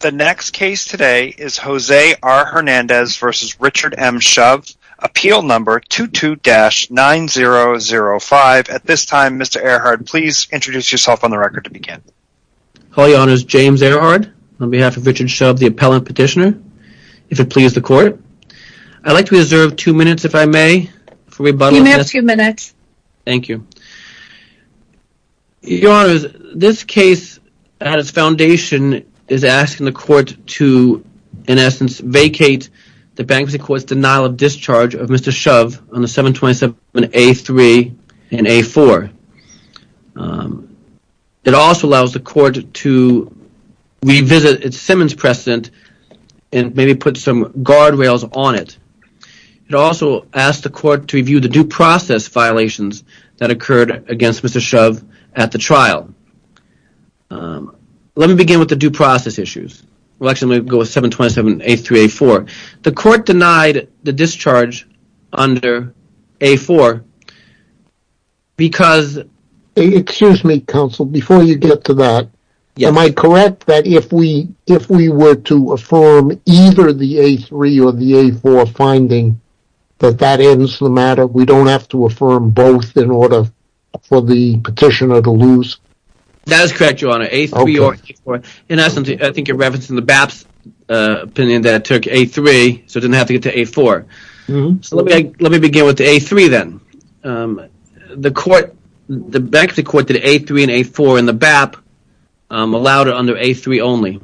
The next case today is Jose R. Hernandez v. Richard M. Shove, Appeal No. 22-9005. At this time, Mr. Ehrhard, please introduce yourself on the record to begin. All your Honors, James Ehrhard, on behalf of Richard Shove, the Appellant Petitioner, if it please the Court. I'd like to reserve two minutes, if I may, for rebuttal. You may have two minutes. Thank you. Your Honors, this case, at its foundation, is asking the Court to, in essence, vacate the bankruptcy court's denial of discharge of Mr. Shove on the 727A3 and A4. It also allows the Court to revisit its Simmons precedent and maybe put some guardrails on it. It also asks the Court to review the due process violations that occurred against Mr. Shove at the trial. Let me begin with the due process issues. We'll actually go with 727A3-A4. The Court denied the discharge under A4 because... Excuse me, Counsel, before you get to that, am I correct that if we were to affirm either the A3 or the A4 finding, that that ends the matter? We don't have to affirm both in order for the Petitioner to lose? That is correct, Your Honor, A3 or A4. In essence, I think you're referencing the BAP's opinion that it took A3 so it didn't have to get to A4. Let me begin with the A3, then. The bankruptcy court did A3 and A4, and the BAP allowed it under A3 only.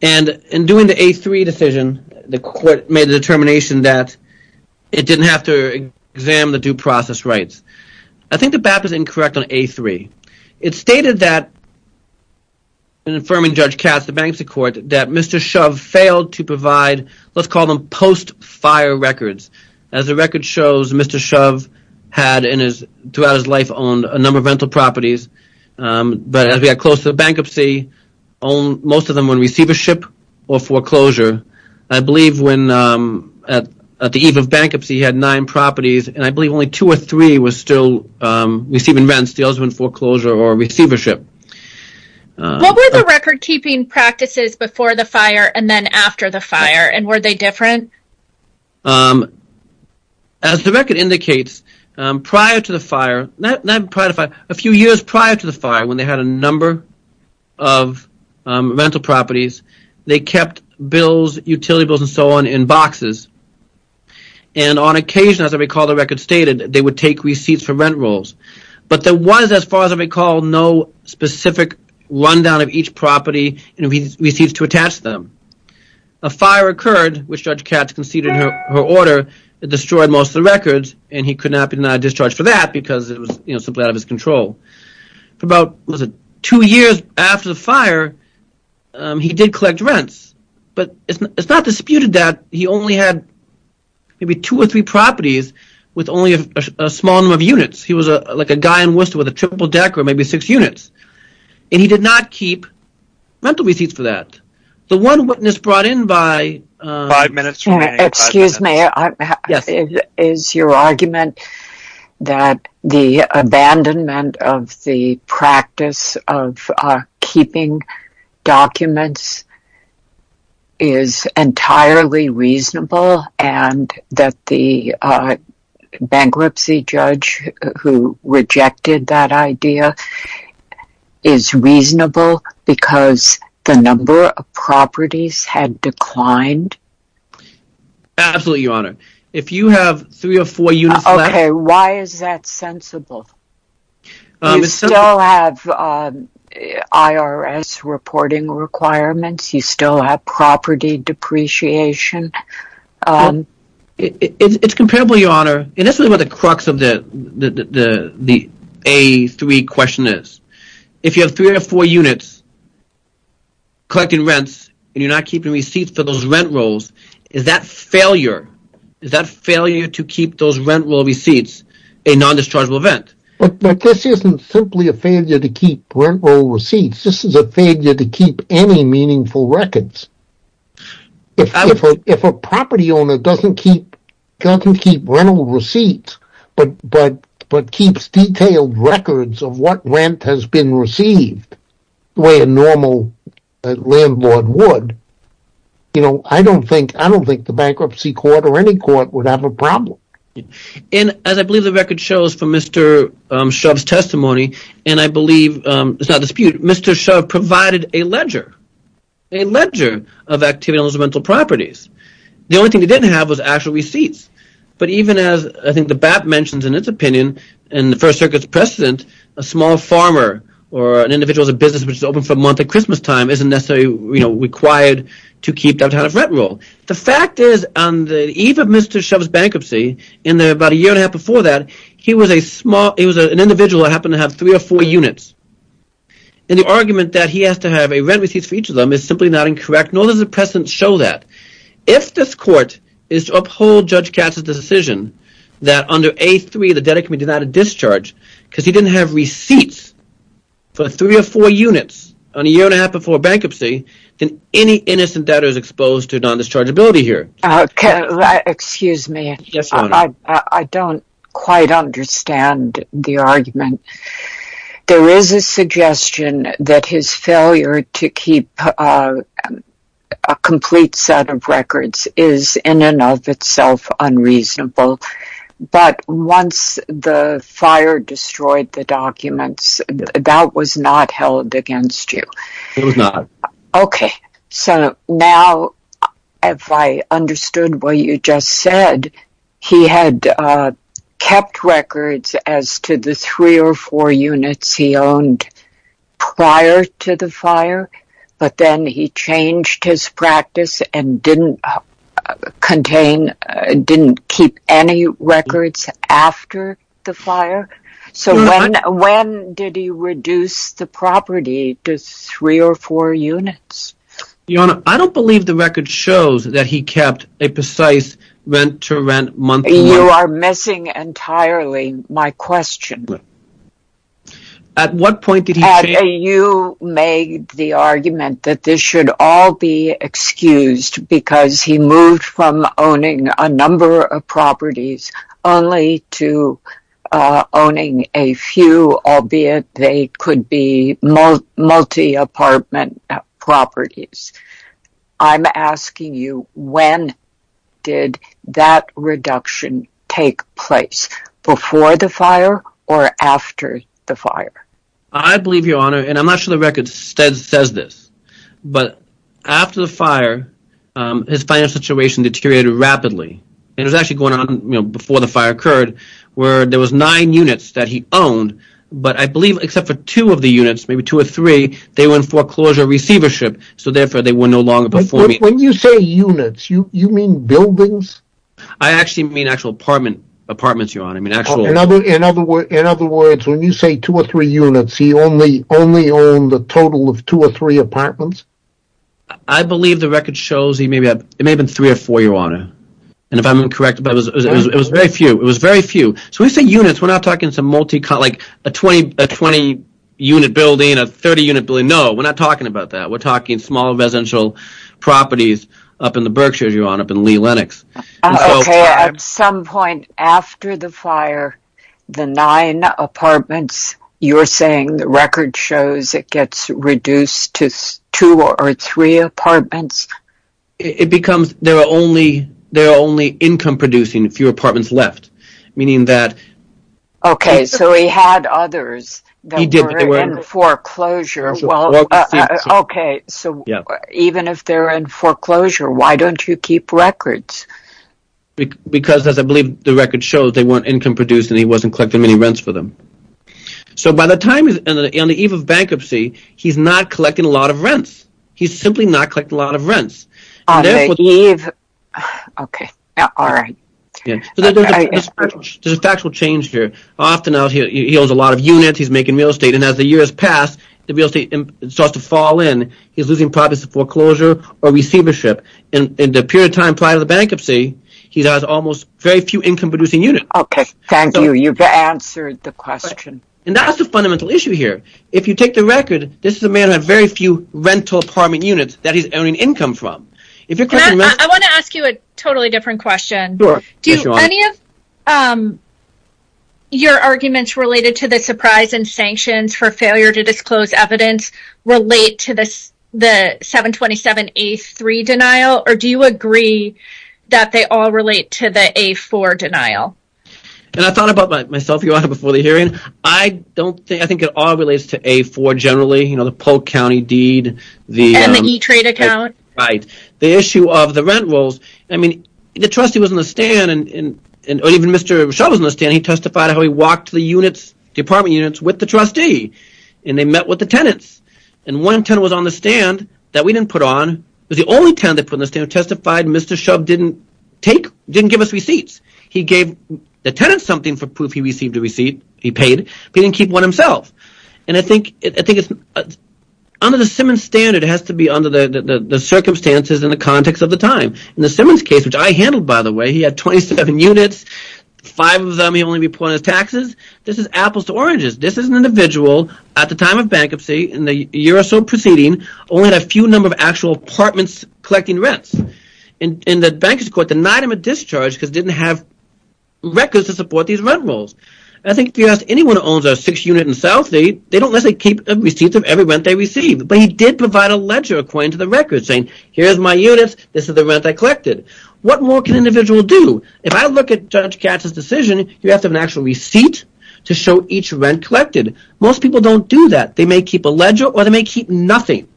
In doing the A3 decision, the Court made the determination that it didn't have to examine the due process rights. I think the BAP is incorrect on A3. It stated that Mr. Shove failed to provide, let's call them post-fire records. As the record shows, Mr. Shove had, throughout his life, owned a number of rental properties. But as we got closer to bankruptcy, most of them were in receivership or foreclosure. I believe when, at the eve of bankruptcy, he had nine properties, and I believe only two or three were still receiving rents. The others were in foreclosure or receivership. What were the record-keeping practices before the fire and then after the fire, and were they different? As the record indicates, prior to the fire, not prior to the fire, a few years prior to the fire, when they had a number of rental properties, they kept bills, utility bills and so on, in boxes. And on occasion, as I recall the record stated, they would take receipts for rent rolls. But there was, as far as I recall, no specific rundown of each property and receipts to attach them. A fire occurred, which Judge Katz conceded in her order, that destroyed most of the records, and he could not be denied discharge for that because it was simply out of his control. About two years after the fire, he did collect rents. But it's not disputed that he only had maybe two or three properties with only a small number of units. He was like a guy in Worcester with a triple deck or maybe six units. And he did not keep rental receipts for that. The one witness brought in by… Five minutes remaining. Excuse me. Yes. Is your argument that the abandonment of the practice of keeping documents is entirely reasonable and that the bankruptcy judge who rejected that idea is reasonable because the number of properties had declined? Absolutely, Your Honor. If you have three or four units left… Okay, why is that sensible? You still have IRS reporting requirements. You still have property depreciation. It's comparable, Your Honor, and that's really what the crux of the A3 question is. If you have three or four units collecting rents and you're not keeping receipts for those rent rolls, is that failure to keep those rent roll receipts a non-dischargeable event? But this isn't simply a failure to keep rent roll receipts. This is a failure to keep any meaningful records. If a property owner doesn't keep rent roll receipts but keeps detailed records of what rent has been received the way a normal landlord would, I don't think the bankruptcy court or any court would have a problem. As I believe the record shows from Mr. Shove's testimony, and I believe it's not a dispute, Mr. Shove provided a ledger of activities on those rental properties. The only thing they didn't have was actual receipts. But even as I think the BAP mentions in its opinion in the First Circuit's precedent, a small farmer or an individual with a business which is open for a month at Christmas time isn't necessarily required to keep that kind of rent roll. The fact is on the eve of Mr. Shove's bankruptcy and about a year and a half before that, he was an individual that happened to have three or four units. And the argument that he has to have rent receipts for each of them is simply not incorrect, nor does the precedent show that. If this court is to uphold Judge Katz's decision that under A3 the debtor can be denied a discharge because he didn't have receipts for three or four units on a year and a half before bankruptcy, then any innocent debtor is exposed to non-dischargeability here. Excuse me. Yes, Your Honor. I don't quite understand the argument. There is a suggestion that his failure to keep a complete set of records is in and of itself unreasonable. But once the fire destroyed the documents, that was not held against you. It was not. Okay. So now, if I understood what you just said, he had kept records as to the three or four units he owned prior to the fire, but then he changed his practice and didn't keep any records after the fire? So when did he reduce the property to three or four units? Your Honor, I don't believe the record shows that he kept a precise rent-to-rent monthly. You are missing entirely my question. At what point did he change? You made the argument that this should all be excused because he moved from owning a number of properties only to owning a few, albeit they could be multi-apartment properties. I'm asking you, when did that reduction take place? Before the fire or after the fire? I believe, Your Honor, and I'm not sure the record says this, but after the fire, his financial situation deteriorated rapidly. It was actually going on before the fire occurred where there were nine units that he owned, but I believe except for two of the units, maybe two or three, they were in foreclosure receivership, so therefore they were no longer performing. When you say units, you mean buildings? I actually mean actual apartments, Your Honor. In other words, when you say two or three units, he only owned a total of two or three apartments? I believe the record shows, it may have been three or four, Your Honor, and if I'm correct, it was very few. So when you say units, we're not talking a 20-unit building, a 30-unit building, no, we're not talking about that. We're talking small residential properties up in the Berkshires, Your Honor, up in Lee Lennox. Okay, at some point after the fire, the nine apartments, you're saying the record shows it gets reduced to two or three apartments? It becomes there are only income-producing, a few apartments left, meaning that… Okay, so he had others that were in foreclosure. Okay, so even if they're in foreclosure, why don't you keep records? Because as I believe the record shows, they weren't income-producing, he wasn't collecting any rents for them. So by the time on the eve of bankruptcy, he's not collecting a lot of rents. He's simply not collecting a lot of rents. On the eve, okay, all right. There's a factual change here. Often out here, he owns a lot of units, he's making real estate, and as the years pass, the real estate starts to fall in. He's losing property for foreclosure or receivership. In the period of time prior to the bankruptcy, he has almost very few income-producing units. Okay, thank you. You've answered the question. And that's the fundamental issue here. If you take the record, this is a man who had very few rental apartment units that he's earning income from. I want to ask you a totally different question. Do any of your arguments related to the surprise and sanctions for failure to disclose evidence relate to the 727A3 denial? Or do you agree that they all relate to the A4 denial? And I thought about myself before the hearing. I think it all relates to A4 generally, you know, the Polk County deed. And the E-Trade account? Right. The issue of the rent rules. I mean, the trustee was on the stand, or even Mr. Shove was on the stand. He testified how he walked the units, the apartment units, with the trustee. And they met with the tenants. And one tenant was on the stand that we didn't put on. It was the only tenant that put on the stand who testified. Mr. Shove didn't give us receipts. He gave the tenant something for proof he received a receipt. He paid, but he didn't keep one himself. And I think it's under the Simmons standard. It has to be under the circumstances and the context of the time. In the Simmons case, which I handled, by the way, he had 27 units. Five of them he only reported as taxes. This is apples to oranges. This is an individual at the time of bankruptcy in the year or so preceding only had a few number of actual apartments collecting rents. And the bankruptcy court denied him a discharge because he didn't have records to support these rent rules. I think if you ask anyone who owns a six-unit in South, they don't necessarily keep a receipt of every rent they receive. But he did provide a ledger according to the records saying, here's my units. This is the rent I collected. What more can an individual do? If I look at Judge Katz's decision, you have to have an actual receipt to show each rent collected. Most people don't do that. They may keep a ledger or they may keep nothing.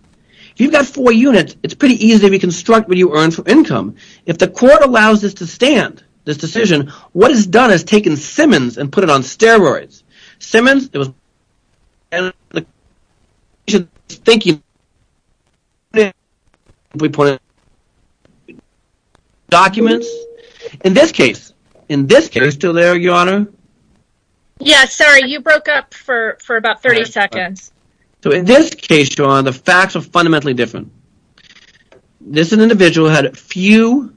If you've got four units, it's pretty easy to reconstruct what you earn from income. If the court allows this to stand, this decision, what is done is taken Simmons and put it on steroids. Simmons, it was ________________ documents. In this case, in this case – Are you still there, Your Honor? Yeah, sorry. You broke up for about 30 seconds. So in this case, Your Honor, the facts are fundamentally different. This individual had a few,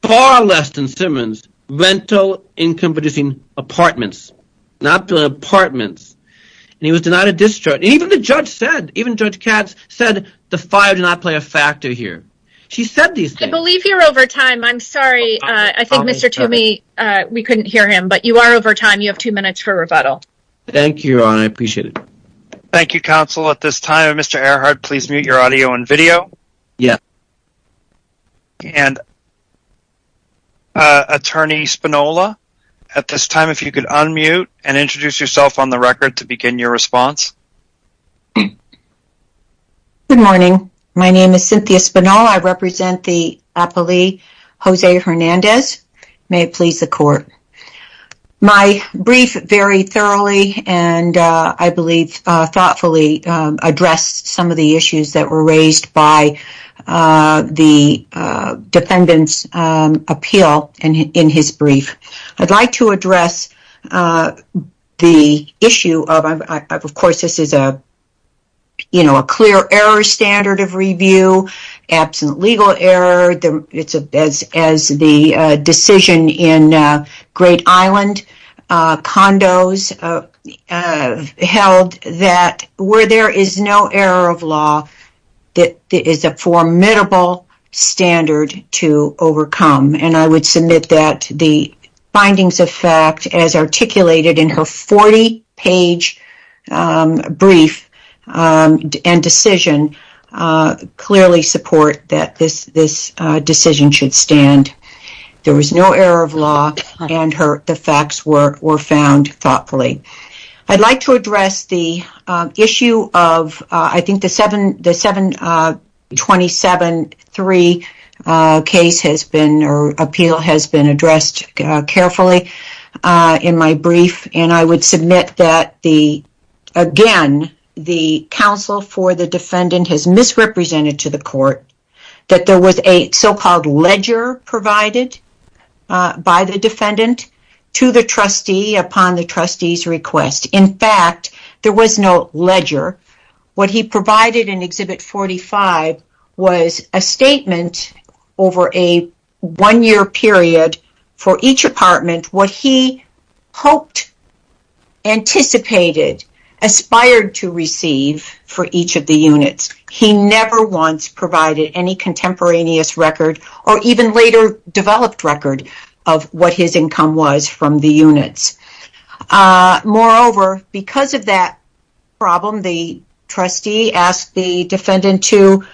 far less than Simmons, rental, income-producing apartments. Not the apartments. And he was denied a discharge. Even the judge said, even Judge Katz said, the fire did not play a factor here. She said these things. I believe you're over time. I'm sorry. I think Mr. Toomey, we couldn't hear him. But you are over time. You have two minutes for rebuttal. Thank you, Your Honor. I appreciate it. Thank you, counsel. At this time, Mr. Earhart, please mute your audio and video. Yes. And Attorney Spinola, at this time, if you could unmute and introduce yourself on the record to begin your response. Good morning. My name is Cynthia Spinola. I represent the appellee, Jose Hernandez. May it please the court. My brief very thoroughly and I believe thoughtfully addressed some of the issues that were raised by the defendant's appeal in his brief. I'd like to address the issue of, of course, this is a, you know, a clear error standard of review, absent legal error. It's as the decision in Great Island condos held that where there is no error of law, there is a formidable standard to overcome. And I would submit that the findings of fact as articulated in her 40-page brief and decision clearly support that this decision should stand. There was no error of law and the facts were found thoughtfully. I'd like to address the issue of, I think the 727-3 case has been, or appeal has been addressed carefully in my brief. And I would submit that the, again, the counsel for the defendant has misrepresented to the court that there was a so-called ledger provided by the defendant to the trustee upon the trustee's request. In fact, there was no ledger. What he provided in Exhibit 45 was a statement over a one-year period for each apartment, what he hoped, anticipated, aspired to receive for each of the units. He never once provided any contemporaneous record or even later developed record of what his income was from the units. Moreover, because of that problem, the trustee asked the defendant to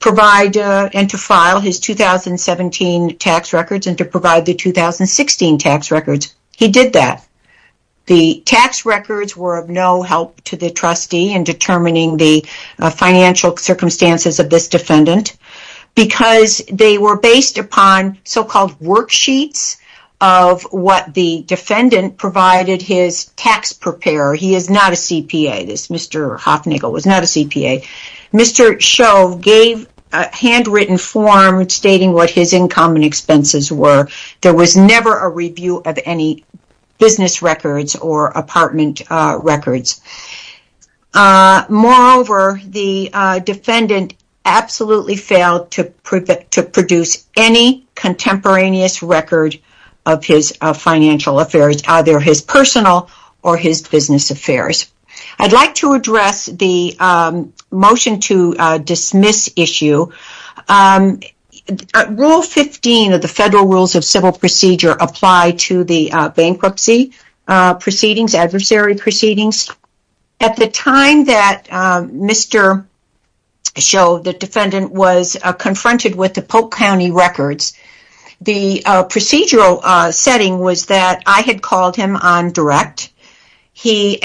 provide and to file his 2017 tax records and to provide the 2016 tax records. He did that. The tax records were of no help to the trustee in determining the financial circumstances of this defendant because they were based upon so-called worksheets of what the defendant provided his tax preparer. He is not a CPA. This Mr. Hoffnagle was not a CPA. Mr. Sho gave a handwritten form stating what his income and expenses were. There was never a review of any business records or apartment records. Moreover, the defendant absolutely failed to produce any contemporaneous record of his financial affairs, either his personal or his business affairs. I'd like to address the motion to dismiss issue. Rule 15 of the Federal Rules of Civil Procedure apply to the bankruptcy proceedings, adversary proceedings. At the time that Mr. Sho, the defendant, was confronted with the Polk County records, the procedural setting was that I had called him on direct. He,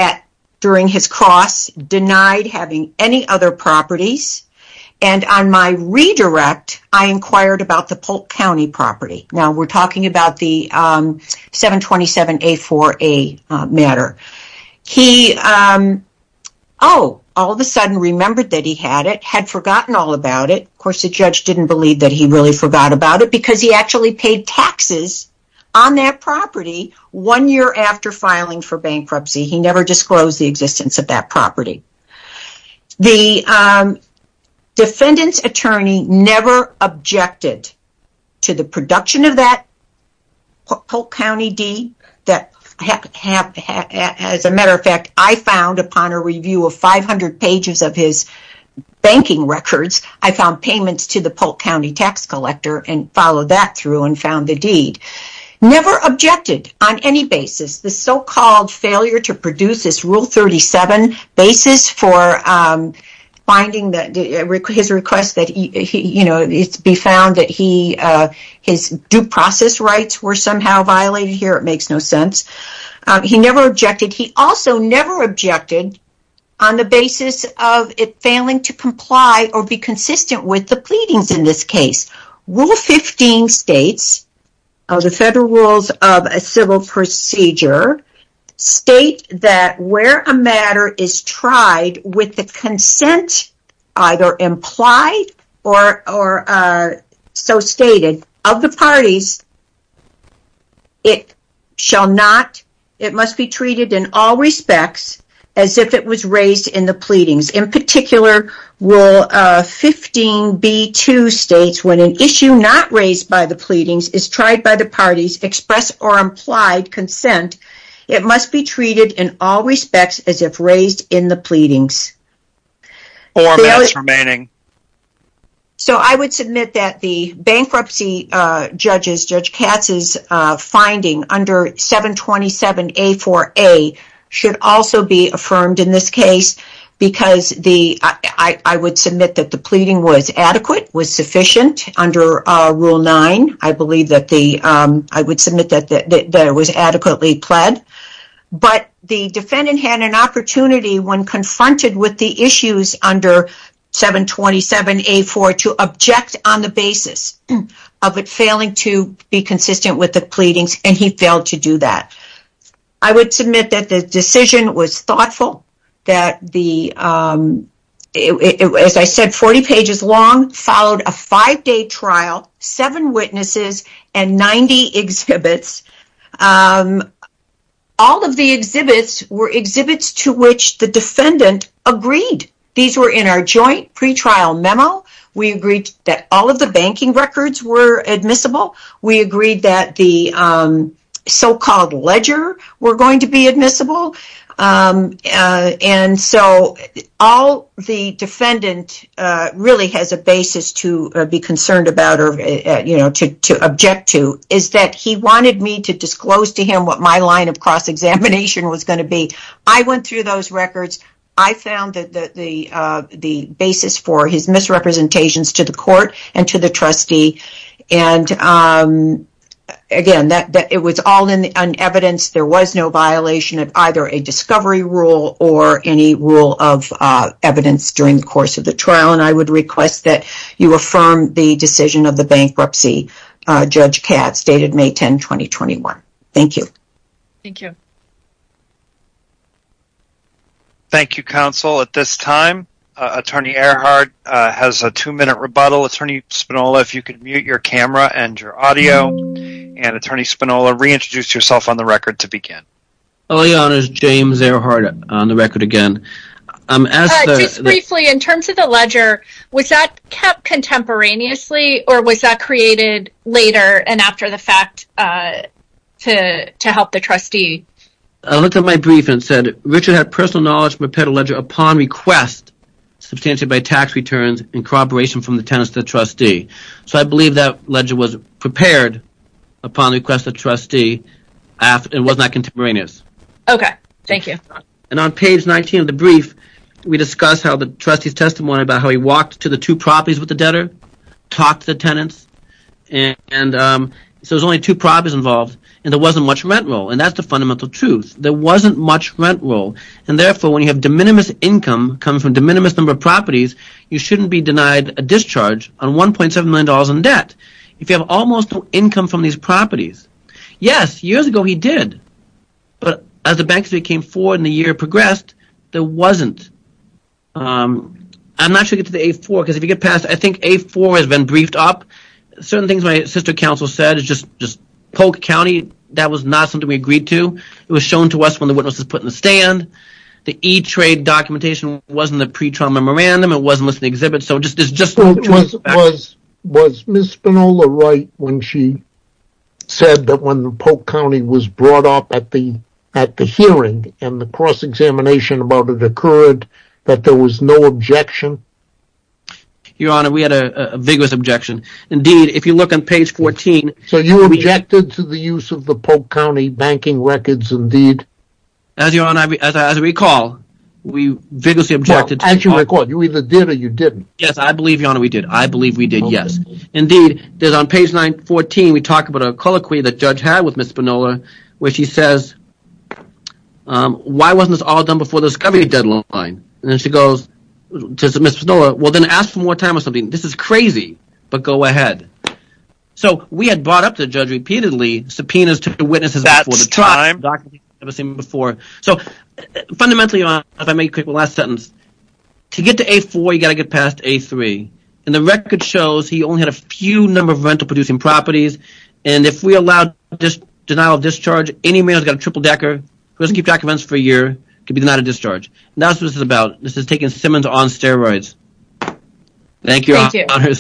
during his cross, denied having any other properties, and on my redirect, I inquired about the Polk County property. Now, we're talking about the 727A4A matter. He, oh, all of a sudden remembered that he had it, had forgotten all about it. Of course, the judge didn't believe that he really forgot about it because he actually paid taxes on that property one year after filing for bankruptcy. He never disclosed the existence of that property. The defendant's attorney never objected to the production of that Polk County deed. As a matter of fact, I found, upon a review of 500 pages of his banking records, I found payments to the Polk County tax collector and followed that through and found the deed. Never objected on any basis. The so-called failure to produce this Rule 37 basis for finding his request to be found that his due process rights were somehow violated. Here, it makes no sense. He never objected. He also never objected on the basis of it failing to comply or be consistent with the pleadings in this case. Rule 15 states, of the Federal Rules of Civil Procedure, state that where a matter is tried with the consent either implied or so stated of the parties, it shall not, it must be treated in all respects as if it was raised in the pleadings. In particular, Rule 15b2 states, when an issue not raised by the pleadings is tried by the parties, expressed or implied consent, it must be treated in all respects as if raised in the pleadings. Four minutes remaining. So, I would submit that the bankruptcy judges, Judge Katz's finding under 727A4A should also be affirmed in this case because the, I would submit that the pleading was adequate, was sufficient under Rule 9. I believe that the, I would submit that it was adequately pled. But, the defendant had an opportunity when confronted with the issues under 727A4 to object on the basis of it failing to be consistent with the pleadings and he failed to do that. I would submit that the decision was thoughtful, that the, as I said, 40 pages long, followed a five-day trial, seven witnesses, and 90 exhibits. All of the exhibits were exhibits to which the defendant agreed. These were in our joint pretrial memo. We agreed that all of the banking records were admissible. We agreed that the so-called ledger were going to be admissible. And so, all the defendant really has a basis to be concerned about or, you know, to object to is that he wanted me to disclose to him what my line of cross-examination was going to be. I went through those records. I found that the basis for his misrepresentations to the court and to the trustee and, again, that it was all in evidence. There was no violation of either a discovery rule or any rule of evidence during the course of the trial. And I would request that you affirm the decision of the bankruptcy, Judge Katz, dated May 10, 2021. Thank you. Thank you. Thank you, counsel. At this time, Attorney Earhardt has a two-minute rebuttal. Attorney Spinola, if you could mute your camera and your audio. And, Attorney Spinola, reintroduce yourself on the record to begin. My name is James Earhardt, on the record again. Just briefly, in terms of the ledger, was that kept contemporaneously or was that created later and after the fact to help the trustee? I looked at my brief and it said, Richard had personal knowledge and prepared a ledger upon request, substantially by tax returns and corroboration from the tenants to the trustee. So I believe that ledger was prepared upon request of the trustee and was not contemporaneous. Okay. Thank you. And on page 19 of the brief, we discuss how the trustee's testimony about how he walked to the two properties with the debtor, talked to the tenants. And so there's only two properties involved, and there wasn't much rent roll, and that's the fundamental truth. There wasn't much rent roll, and therefore, when you have de minimis income coming from de minimis number of properties, you shouldn't be denied a discharge on $1.7 million in debt if you have almost no income from these properties. Yes, years ago he did, but as the bank state came forward and the year progressed, there wasn't. I'm not sure if it's the A4, because if you get past, I think A4 has been briefed up. Certain things my sister counsel said is just Polk County, that was not something we agreed to. It was shown to us when the witness was put in the stand. The E-Trade documentation wasn't the pretrial memorandum. It wasn't listed in the exhibit. Was Ms. Spinola right when she said that when Polk County was brought up at the hearing, and the cross-examination about it occurred, that there was no objection? Your Honor, we had a vigorous objection. Indeed, if you look on page 14. So you objected to the use of the Polk County banking records indeed? As Your Honor, as I recall, we vigorously objected. As you recall, you either did or you didn't. Yes, I believe, Your Honor, we did. I believe we did, yes. Indeed, there's on page 914, we talk about a colloquy the judge had with Ms. Spinola, where she says, why wasn't this all done before the discovery deadline? And then she goes to Ms. Spinola, well, then ask for more time or something. This is crazy, but go ahead. So we had brought up the judge repeatedly, subpoenas to the witnesses. That's time. So fundamentally, if I may make a quick last sentence, to get to A4, you've got to get past A3. And the record shows he only had a few number of rental-producing properties. And if we allowed this denial of discharge, any man who's got a triple-decker, who doesn't keep documents for a year, could be denied a discharge. That's what this is about. This is taking Simmons on steroids. Thank you, Your Honor.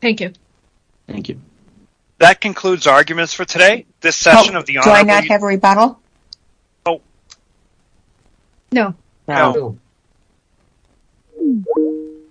Thank you. Thank you. That concludes arguments for today. Do I not have a rebuttal? No. No. Thank you.